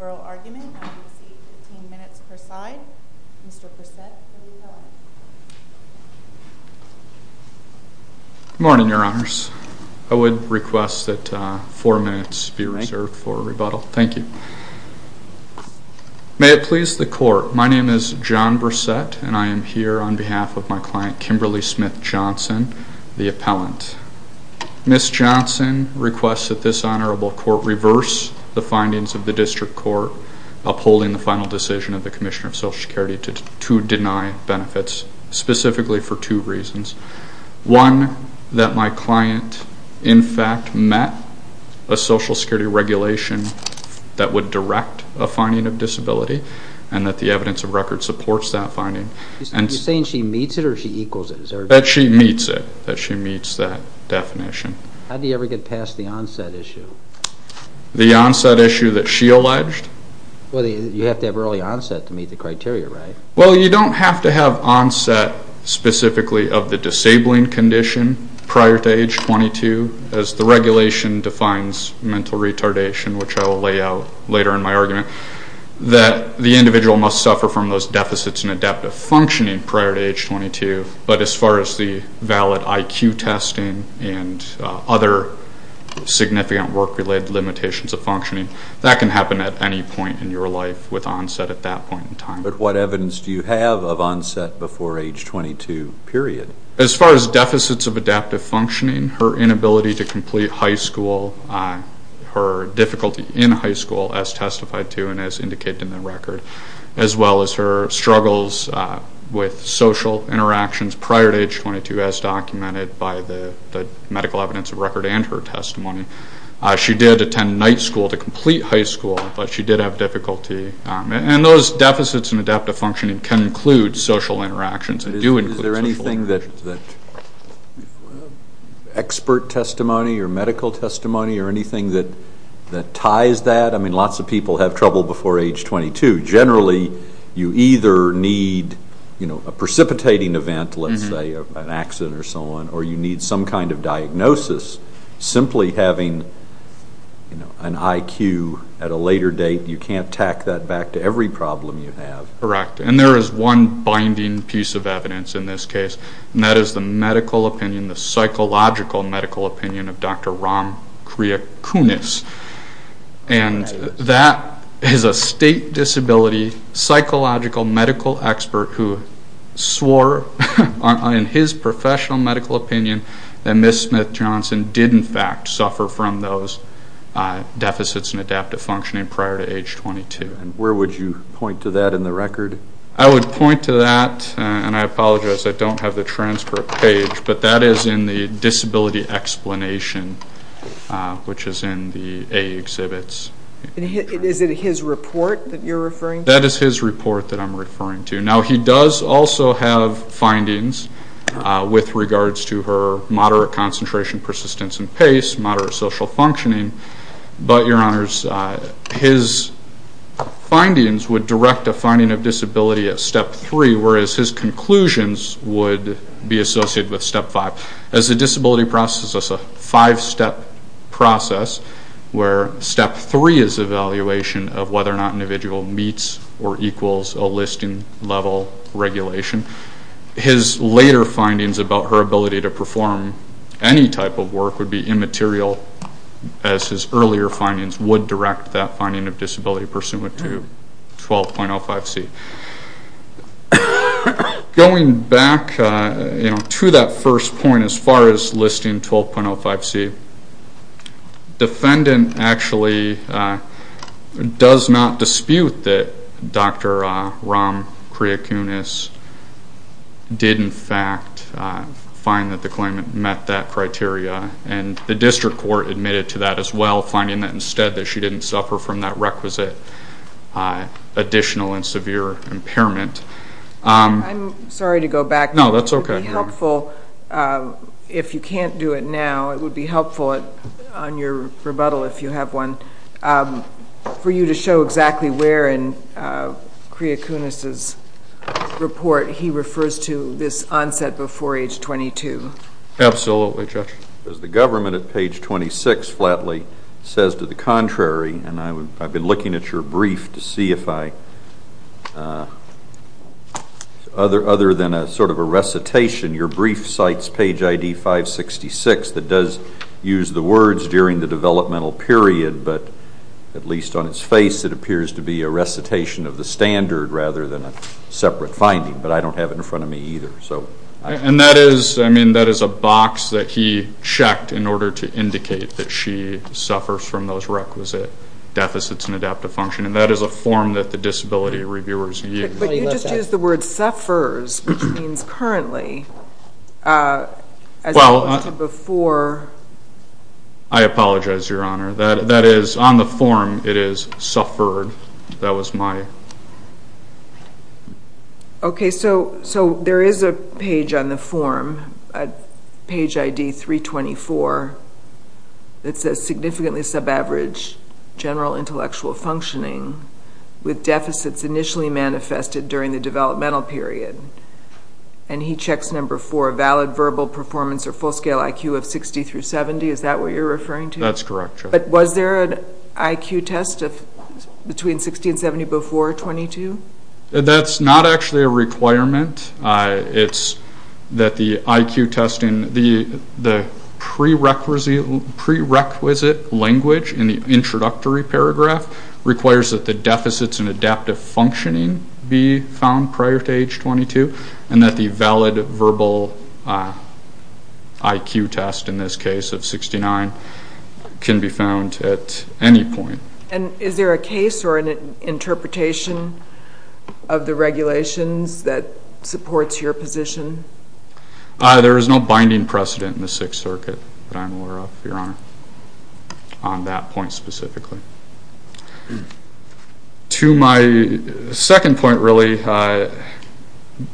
Oral argument, I will receive 15 minutes per side. Mr. Bursette, the rebuttal. Good morning, your honors. I would request that 4 minutes be reserved for rebuttal. Thank you. May it please the court, my name is John Bursette, and I am here on behalf of my client, Mr. Kimberly Smith Johnson, the appellant. Ms. Johnson requests that this honorable court reverse the findings of the District Court upholding the final decision of the Commissioner of Social Security to deny benefits, specifically for two reasons. One, that my client in fact met a Social Security regulation that would direct a finding of disability, and that the evidence of record supports that finding. You're saying she meets it or she equals it? That she meets it, that she meets that definition. How do you ever get past the onset issue? The onset issue that she alleged? Well, you have to have early onset to meet the criteria, right? Well, you don't have to have onset specifically of the disabling condition prior to age 22, as the regulation defines mental retardation, which I will lay out later in my argument, that the individual must suffer from those deficits in adaptive functioning prior to age 22, but as far as the valid IQ testing and other significant work-related limitations of functioning, that can happen at any point in your life with onset at that point in time. But what evidence do you have of onset before age 22, period? As far as deficits of adaptive functioning, her inability to complete high school, her difficulty in high school, as testified to and as indicated in the record, as well as her struggles with social interactions prior to age 22, as documented by the medical evidence of record and her testimony. She did attend night school to complete high school, but she did have difficulty. And those deficits in adaptive functioning can include social interactions. Is there anything that expert testimony or medical testimony or anything that ties that? I mean, lots of people have trouble before age 22. Generally, you either need a precipitating event, let's say an accident or so on, or you need some kind of diagnosis. Simply having an IQ at a later date, you can't tack that back to every problem you have. Correct, and there is one binding piece of evidence in this case, and that is the medical opinion, the psychological medical opinion of Dr. Ram Kriyakunis. And that is a state disability psychological medical expert who swore in his professional medical opinion that Ms. Smith-Johnson did, in fact, suffer from those deficits in adaptive functioning prior to age 22. And where would you point to that in the record? I would point to that, and I apologize, I don't have the transcript page, but that is in the disability explanation, which is in the AE exhibits. Is it his report that you're referring to? That is his report that I'm referring to. Now, he does also have findings with regards to her moderate concentration, persistence, and pace, moderate social functioning. But, Your Honors, his findings would direct a finding of disability at Step 3, whereas his conclusions would be associated with Step 5. As the disability process is a five-step process, where Step 3 is evaluation of whether or not an individual meets or equals a listing-level regulation, his later findings about her ability to perform any type of work would be immaterial, as his earlier findings would direct that finding of disability pursuant to 12.05c. Going back to that first point as far as listing 12.05c, the defendant actually does not dispute that Dr. Ram Kriyakunis did in fact find that the claimant met that criteria, and the district court admitted to that as well, finding that instead that she didn't suffer from that requisite additional and severe impairment. I'm sorry to go back. No, that's okay. It would be helpful, if you can't do it now, it would be helpful on your rebuttal if you have one, for you to show exactly where in Kriyakunis' report he refers to this onset before age 22. Absolutely, Judge. As the government at page 26 flatly says to the contrary, and I've been looking at your brief to see if I, other than sort of a recitation, your brief cites page ID 566 that does use the words during the developmental period, but at least on its face it appears to be a recitation of the standard rather than a separate finding, but I don't have it in front of me either. And that is, I mean, that is a box that he checked in order to indicate that she suffers from those requisite deficits in adaptive function, and that is a form that the disability reviewers use. But you just used the word suffers, which means currently, as opposed to before. I apologize, Your Honor. That is on the form it is suffered. That was my... Okay, so there is a page on the form, page ID 324, that says significantly sub-average general intellectual functioning with deficits initially manifested during the developmental period, and he checks number four, valid verbal performance or full-scale IQ of 60 through 70. Is that what you're referring to? That's correct, Judge. But was there an IQ test between 60 and 70 before 22? That's not actually a requirement. It's that the IQ test in the prerequisite language in the introductory paragraph requires that the deficits in adaptive functioning be found prior to age 22, and that the valid verbal IQ test in this case of 69 can be found at any point. And is there a case or an interpretation of the regulations that supports your position? There is no binding precedent in the Sixth Circuit that I'm aware of, Your Honor, on that point specifically. To my second point, really,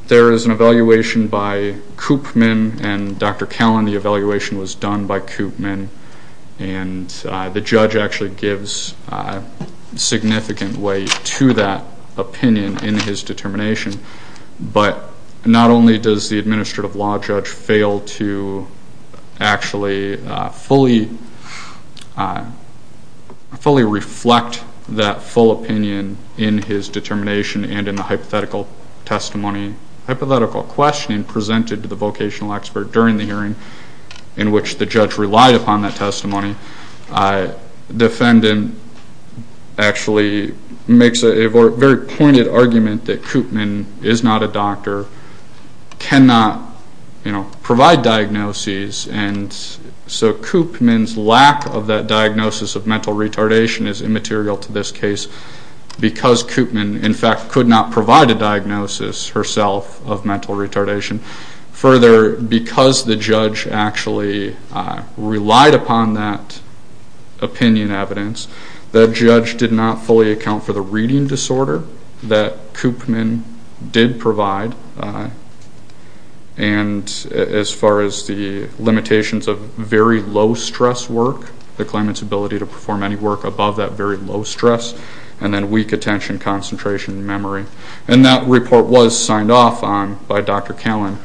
there is an evaluation by Koopman and Dr. Callan. The evaluation was done by Koopman, and the judge actually gives significant weight to that opinion in his determination. But not only does the administrative law judge fail to actually fully reflect that full opinion in his determination and in the hypothetical testimony, hypothetical questioning presented to the vocational expert during the hearing in which the judge relied upon that testimony, the defendant actually makes a very pointed argument that Koopman is not a doctor, cannot provide diagnoses, and so Koopman's lack of that diagnosis of mental retardation is immaterial to this case because Koopman, in fact, could not provide a diagnosis herself of mental retardation. Further, because the judge actually relied upon that opinion evidence, the judge did not fully account for the reading disorder that Koopman did provide. And as far as the limitations of very low stress work, the claimant's ability to perform any work above that very low stress, and then weak attention, concentration, and memory. And that report was signed off on by Dr. Callan.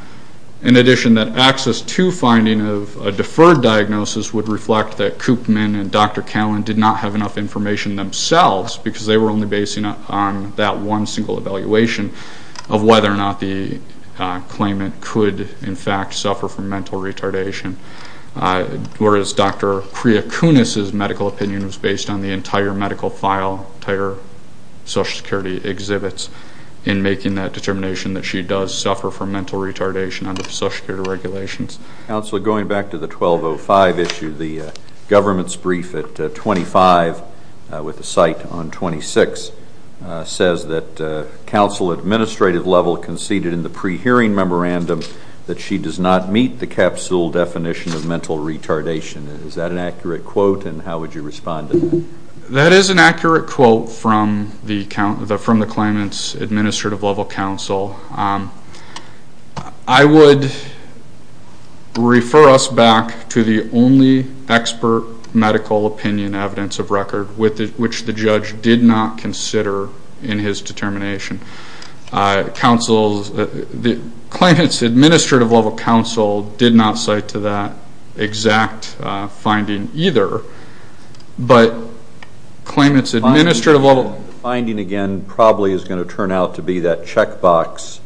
In addition, that Access 2 finding of a deferred diagnosis would reflect that Koopman and Dr. Callan did not have enough information themselves because they were only basing it on that one single evaluation of whether or not the claimant could, in fact, suffer from mental retardation, whereas Dr. Creacunis's medical opinion was based on the entire medical file, entire Social Security exhibits, in making that determination that she does suffer from mental retardation under Social Security regulations. Counsel, going back to the 1205 issue, the government's brief at 25, with a cite on 26, says that counsel at administrative level conceded in the pre-hearing memorandum that she does not meet the capsule definition of mental retardation. Is that an accurate quote, and how would you respond to that? That is an accurate quote from the claimant's administrative level counsel. I would refer us back to the only expert medical opinion evidence of record which the judge did not consider in his determination. Counsel, the claimant's administrative level counsel did not cite to that exact finding either, but claimant's administrative level... The finding, again, probably is going to turn out to be that checkbox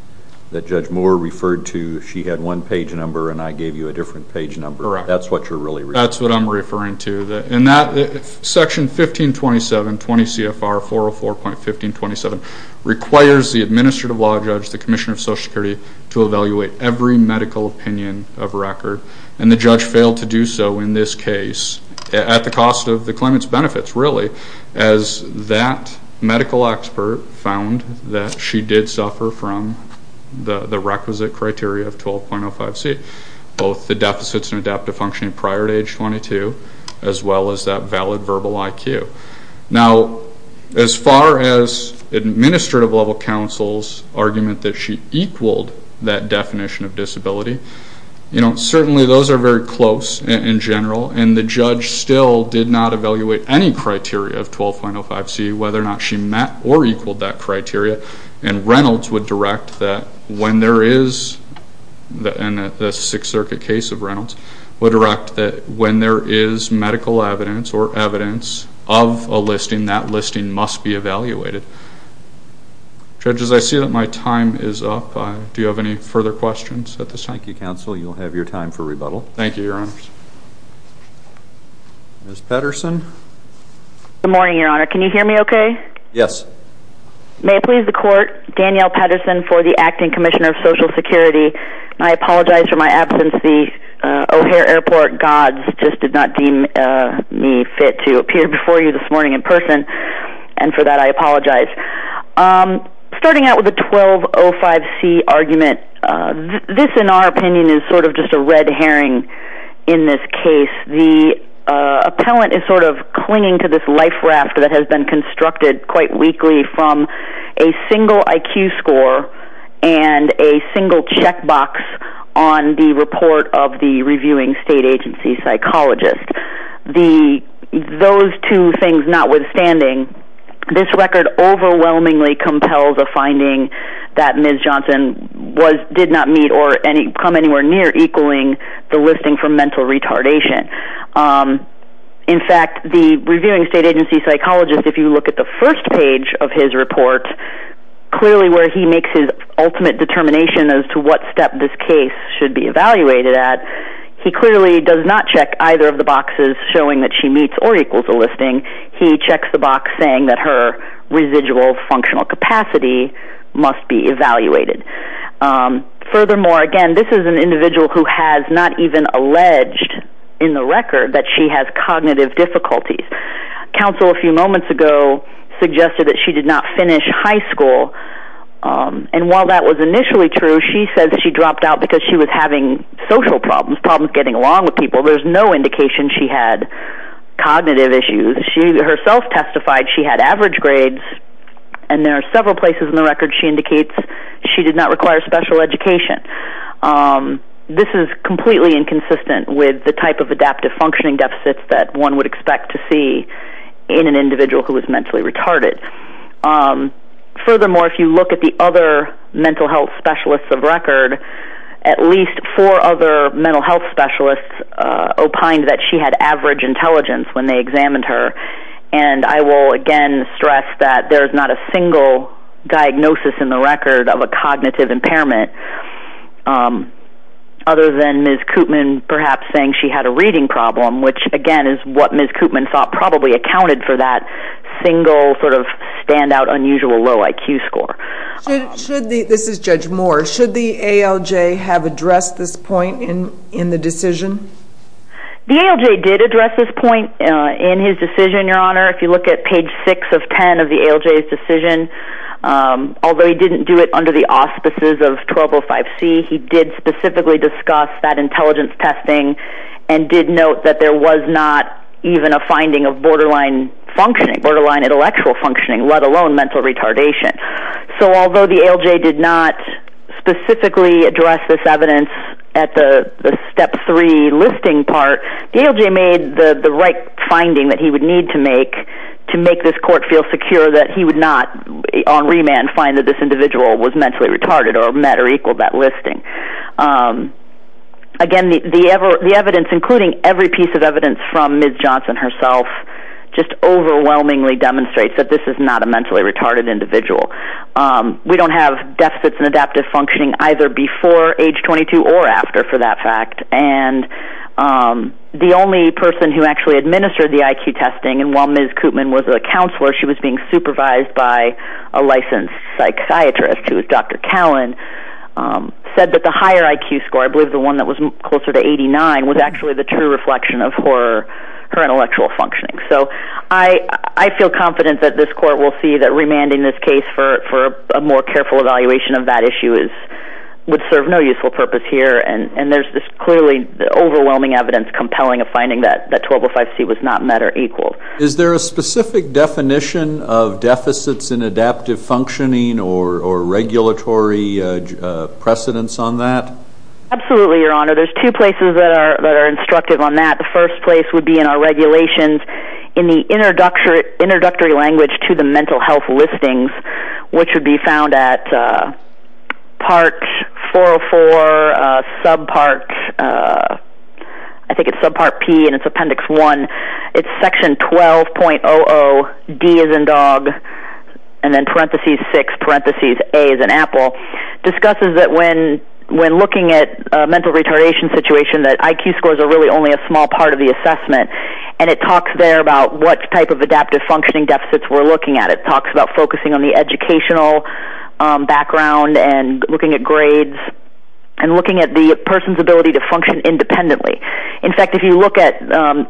that Judge Moore referred to. She had one page number, and I gave you a different page number. Correct. That's what you're really referring to. That's what I'm referring to. Section 1527, 20 CFR 404.1527, requires the administrative law judge, the Commissioner of Social Security, to evaluate every medical opinion of record, and the judge failed to do so in this case at the cost of the claimant's benefits, really, as that medical expert found that she did suffer from the requisite criteria of 12.05C, both the deficits and adaptive functioning prior to age 22, as well as that valid verbal IQ. Now, as far as administrative level counsel's argument that she equaled that definition of disability, certainly those are very close in general, and the judge still did not evaluate any criteria of 12.05C, whether or not she met or equaled that criteria. And Reynolds would direct that when there is, in the Sixth Circuit case of Reynolds, would direct that when there is medical evidence or evidence of a listing, that listing must be evaluated. Judges, I see that my time is up. Do you have any further questions at this time? Thank you, counsel. You'll have your time for rebuttal. Thank you, Your Honors. Ms. Patterson? Good morning, Your Honor. Can you hear me okay? Yes. May it please the Court, Danielle Patterson for the Acting Commissioner of Social Security. I apologize for my absence. The O'Hare Airport gods just did not deem me fit to appear before you this morning in person, and for that I apologize. Starting out with the 12.05C argument, this, in our opinion, is sort of just a red herring in this case. The appellant is sort of clinging to this life raft that has been constructed quite weakly from a single IQ score and a single checkbox on the report of the reviewing state agency psychologist. Those two things notwithstanding, this record overwhelmingly compels a finding that Ms. Johnson did not meet or come anywhere near equaling the listing for mental retardation. In fact, the reviewing state agency psychologist, if you look at the first page of his report, clearly where he makes his ultimate determination as to what step this case should be evaluated at, he clearly does not check either of the boxes showing that she meets or equals the listing. He checks the box saying that her residual functional capacity must be evaluated. Furthermore, again, this is an individual who has not even alleged in the record that she has cognitive difficulties. Counsel a few moments ago suggested that she did not finish high school, and while that was initially true, she said that she dropped out because she was having social problems, problems getting along with people. There's no indication she had cognitive issues. She herself testified she had average grades, and there are several places in the record she indicates she did not require special education. This is completely inconsistent with the type of adaptive functioning deficits that one would expect to see in an individual who is mentally retarded. Furthermore, if you look at the other mental health specialists of record, at least four other mental health specialists opined that she had average intelligence when they examined her, and I will again stress that there's not a single diagnosis in the record of a cognitive impairment other than Ms. Koopman perhaps saying she had a reading problem, which again is what Ms. Koopman thought probably accounted for that single sort of standout unusual low IQ score. This is Judge Moore. Should the ALJ have addressed this point in the decision? The ALJ did address this point in his decision, Your Honor. If you look at page 6 of 10 of the ALJ's decision, although he didn't do it under the auspices of 1205C, he did specifically discuss that intelligence testing and did note that there was not even a finding of borderline intellectual functioning, let alone mental retardation. So although the ALJ did not specifically address this evidence at the step 3 listing part, the ALJ made the right finding that he would need to make to make this court feel secure that he would not on remand find that this individual was mentally retarded or met or equaled that listing. Again, the evidence, including every piece of evidence from Ms. Johnson herself, just overwhelmingly demonstrates that this is not a mentally retarded individual. We don't have deficits in adaptive functioning either before age 22 or after for that fact, and the only person who actually administered the IQ testing, and while Ms. Koopman was a counselor, she was being supervised by a licensed psychiatrist, who was Dr. Callen, said that the higher IQ score, I believe the one that was closer to 89, was actually the true reflection of her intellectual functioning. So I feel confident that this court will see that remanding this case for a more careful evaluation of that issue would serve no useful purpose here, and there's this clearly overwhelming evidence compelling a finding that 1205C was not met or equaled. Is there a specific definition of deficits in adaptive functioning or regulatory precedence on that? Absolutely, Your Honor. There's two places that are instructive on that. The first place would be in our regulations in the introductory language to the mental health listings, which would be found at Part 404, Subpart, I think it's Subpart P, and it's Appendix 1. It's Section 12.00, D as in dog, and then parentheses 6, parentheses A as in apple, discusses that when looking at a mental retardation situation, that IQ scores are really only a small part of the assessment, and it talks there about what type of adaptive functioning deficits we're looking at. It talks about focusing on the educational background and looking at grades and looking at the person's ability to function independently. In fact, if you look at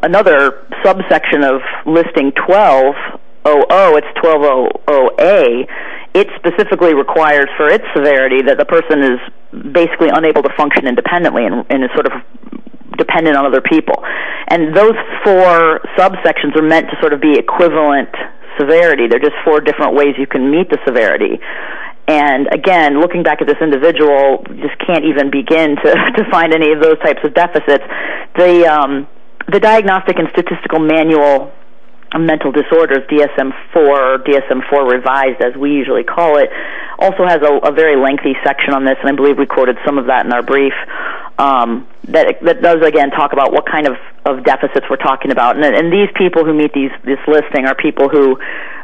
another subsection of Listing 12.00, it's 12.00A, it specifically requires for its severity that the person is basically unable to function independently and is sort of dependent on other people. And those four subsections are meant to sort of be equivalent severity. They're just four different ways you can meet the severity. And, again, looking back at this individual, just can't even begin to find any of those types of deficits. The Diagnostic and Statistical Manual of Mental Disorders, DSM-IV, or DSM-IV revised as we usually call it, also has a very lengthy section on this, and I believe we quoted some of that in our brief, that does, again, talk about what kind of deficits we're talking about. And these people who meet this listing are people who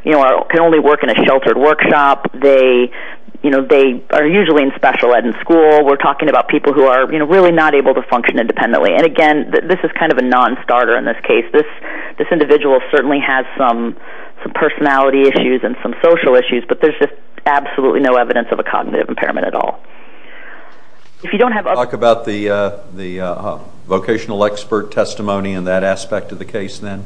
can only work in a sheltered workshop. They are usually in special ed in school. We're talking about people who are, you know, really not able to function independently. And, again, this is kind of a non-starter in this case. This individual certainly has some personality issues and some social issues, but there's just absolutely no evidence of a cognitive impairment at all. If you don't have... Can you talk about the vocational expert testimony in that aspect of the case then?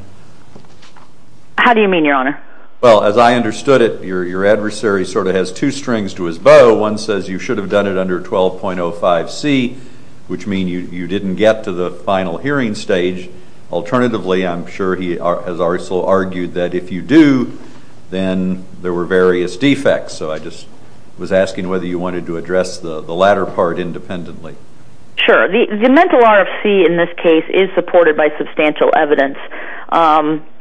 How do you mean, Your Honor? Well, as I understood it, your adversary sort of has two strings to his bow. One says you should have done it under 12.05c, which means you didn't get to the final hearing stage. Alternatively, I'm sure he has also argued that if you do, then there were various defects. So I just was asking whether you wanted to address the latter part independently. Sure. The mental RFC in this case is supported by substantial evidence.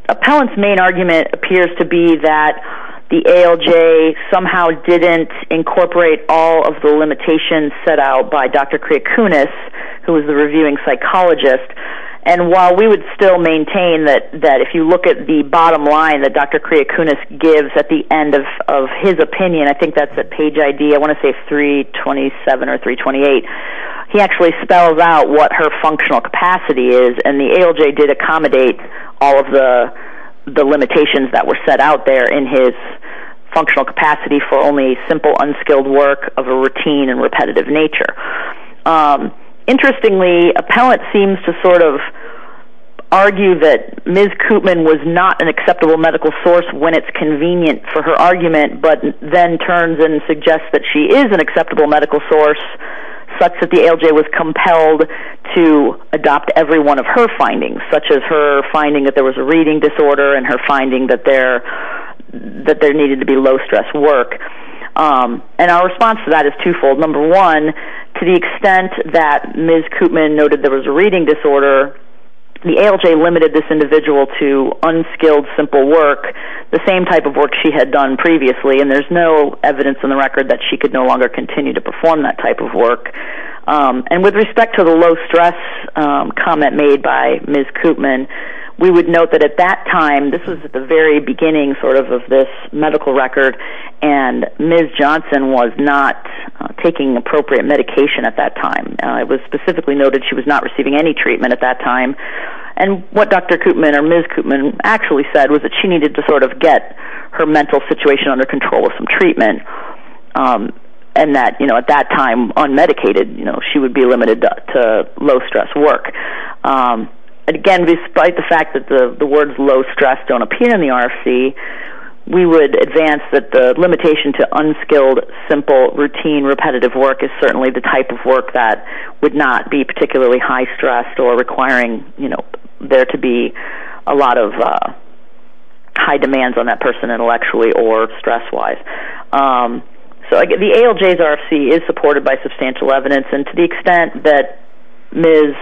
Appellant's main argument appears to be that the ALJ somehow didn't incorporate all of the limitations set out by Dr. Criacunas, who is the reviewing psychologist. And while we would still maintain that if you look at the bottom line that Dr. Criacunas gives at the end of his opinion, I think that's at page ID, I want to say 327 or 328, he actually spells out what her functional capacity is, and the ALJ did accommodate all of the limitations that were set out there in his functional capacity for only simple, unskilled work of a routine and repetitive nature. Interestingly, appellant seems to sort of argue that Ms. Koopman was not an acceptable medical source when it's convenient for her argument, but then turns and suggests that she is an acceptable medical source such that the ALJ was compelled to adopt every one of her findings, such as her finding that there was a reading disorder and her finding that there needed to be low-stress work. And our response to that is twofold. Number one, to the extent that Ms. Koopman noted there was a reading disorder, the ALJ limited this individual to unskilled, simple work, the same type of work she had done previously, and there's no evidence in the record that she could no longer continue to perform that type of work. And with respect to the low-stress comment made by Ms. Koopman, we would note that at that time, this was at the very beginning sort of of this medical record, and Ms. Johnson was not taking appropriate medication at that time. It was specifically noted she was not receiving any treatment at that time. And what Dr. Koopman or Ms. Koopman actually said was that she needed to sort of get her mental situation under control with some treatment and that, you know, at that time, unmedicated, you know, she would be limited to low-stress work. Again, despite the fact that the words low-stress don't appear in the RFC, we would advance that the limitation to unskilled, simple, routine, repetitive work is certainly the type of work that would not be particularly high-stressed or requiring, you know, there to be a lot of high demands on that person intellectually or stress-wise. So the ALJ's RFC is supported by substantial evidence, and to the extent that Ms.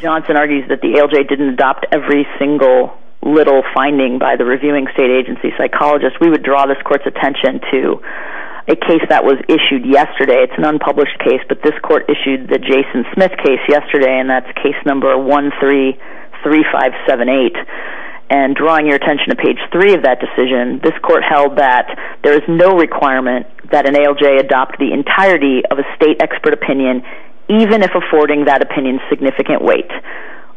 Johnson argues that the ALJ didn't adopt every single little finding by the reviewing state agency psychologist, we would draw this court's attention to a case that was issued yesterday. It's an unpublished case, but this court issued the Jason Smith case yesterday, and that's case number 133578. And drawing your attention to page 3 of that decision, this court held that there is no requirement that an ALJ adopt the entirety of a state expert opinion, even if affording that opinion significant weight,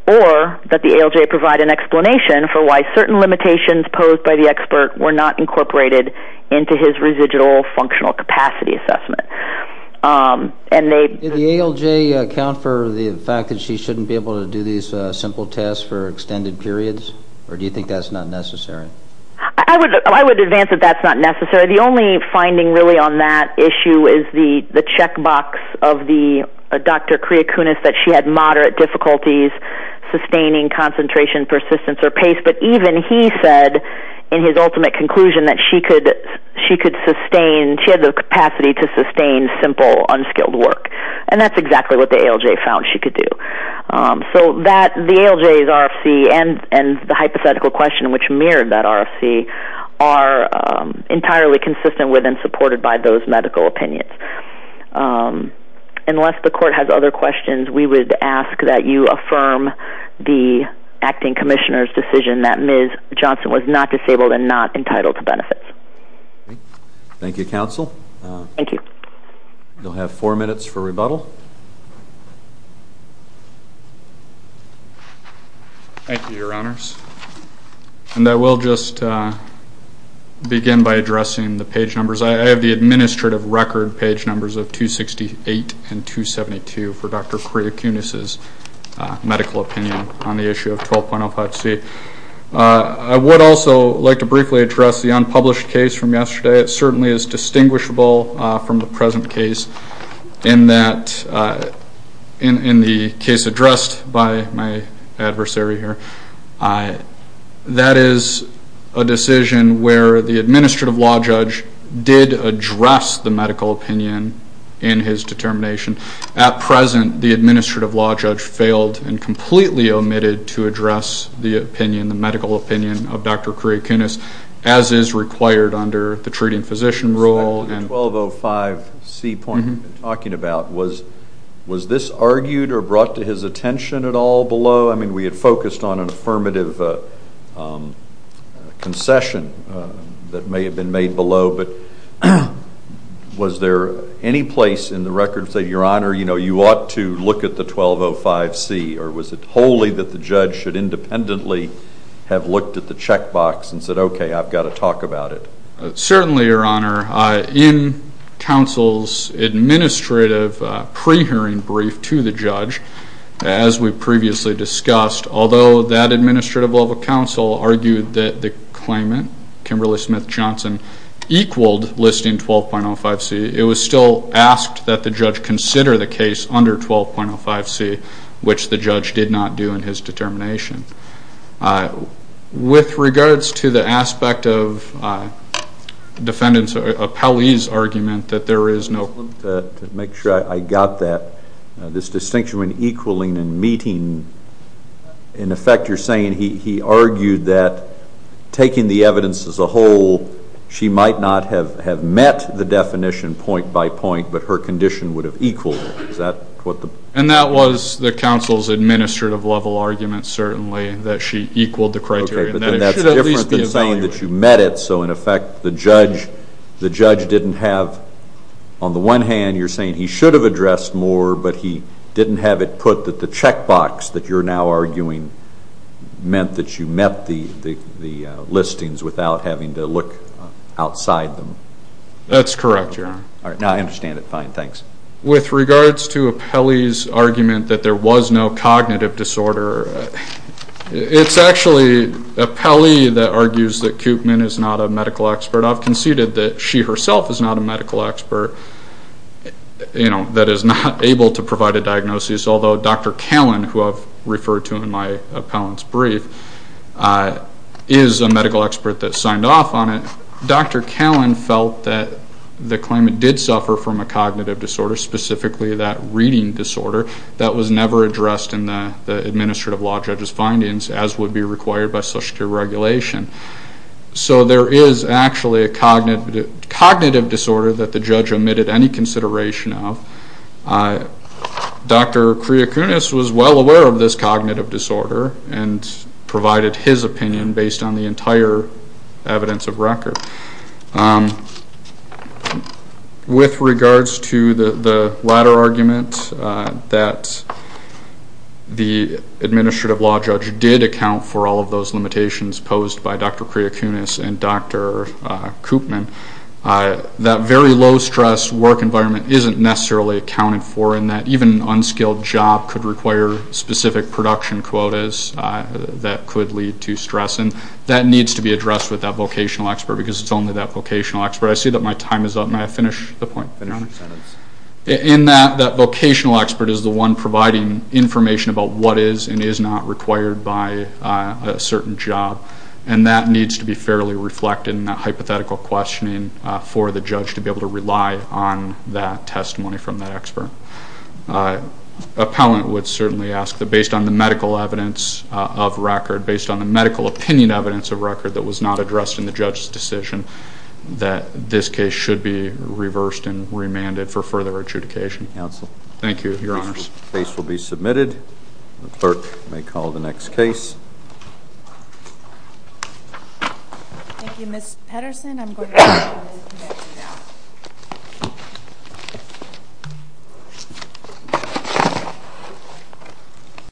or that the ALJ provide an explanation for why certain limitations posed by the expert were not incorporated into his residual functional capacity assessment. Did the ALJ account for the fact that she shouldn't be able to do these simple tests for extended periods, or do you think that's not necessary? I would advance that that's not necessary. The only finding really on that issue is the checkbox of Dr. Kriacounas, that she had moderate difficulties sustaining concentration, persistence, or pace. But even he said, in his ultimate conclusion, that she had the capacity to sustain simple, unskilled work. And that's exactly what the ALJ found she could do. So the ALJ's RFC and the hypothetical question which mirrored that RFC are entirely consistent with and supported by those medical opinions. Unless the court has other questions, we would ask that you affirm the Acting Commissioner's decision that Ms. Johnson was not disabled and not entitled to benefits. Thank you, Counsel. Thank you. You'll have four minutes for rebuttal. Thank you, Your Honors. And I will just begin by addressing the page numbers. I have the administrative record page numbers of 268 and 272 for Dr. Kriacounas' medical opinion on the issue of 12.05C. I would also like to briefly address the unpublished case from yesterday. It certainly is distinguishable from the present case in the case addressed by my adversary here. That is a decision where the administrative law judge did address the medical opinion in his determination. At present, the administrative law judge failed and completely omitted to address the opinion, the medical opinion of Dr. Kriacounas, as is required under the treating physician rule. The 12.05C point you've been talking about, was this argued or brought to his attention at all below? I mean, we had focused on an affirmative concession that may have been made below, but was there any place in the record that said, Your Honor, you ought to look at the 12.05C, or was it wholly that the judge should independently have looked at the checkbox and said, okay, I've got to talk about it? Certainly, Your Honor. In counsel's administrative pre-hearing brief to the judge, as we previously discussed, although that administrative level counsel argued that the claimant, Kimberly Smith-Johnson, equaled listing 12.05C, it was still asked that the judge consider the case under 12.05C, which the judge did not do in his determination. To make sure I got that, this distinction between equaling and meeting, in effect you're saying he argued that taking the evidence as a whole, she might not have met the definition point by point, but her condition would have equaled it. And that was the counsel's administrative level argument, certainly, that she equaled the criteria. Okay, but then that's different than saying that you met it, so in effect the judge didn't have, on the one hand, you're saying he should have addressed more, but he didn't have it put that the checkbox that you're now arguing meant that you met the listings without having to look outside them. That's correct, Your Honor. All right, now I understand it. Fine, thanks. With regards to Appelli's argument that there was no cognitive disorder, it's actually Appelli that argues that Koopman is not a medical expert. I've conceded that she herself is not a medical expert, that is not able to provide a diagnosis, although Dr. Callan, who I've referred to in my appellant's brief, is a medical expert that signed off on it. Dr. Callan felt that the claimant did suffer from a cognitive disorder, specifically that reading disorder, that was never addressed in the administrative law judge's findings, as would be required by social care regulation. So there is actually a cognitive disorder that the judge omitted any consideration of. Dr. Kriacounas was well aware of this cognitive disorder and provided his opinion based on the entire evidence of record. With regards to the latter argument, that the administrative law judge did account for all of those limitations posed by Dr. Kriacounas and Dr. Koopman, that very low-stress work environment isn't necessarily accounted for in that even an unskilled job could require specific production quotas that could lead to stress, and that needs to be addressed with that vocational expert because it's only that vocational expert. I see that my time is up. May I finish the point? Finish your sentence. In that, that vocational expert is the one providing information about what is and is not required by a certain job, and that needs to be fairly reflected in that hypothetical questioning for the judge to be able to rely on that testimony from that expert. Appellant would certainly ask that based on the medical evidence of record, based on the medical opinion evidence of record that was not addressed in the judge's decision, that this case should be reversed and remanded for further adjudication. Counsel. Thank you, Your Honors. The case will be submitted. The clerk may call the next case. Thank you, Ms. Pedersen.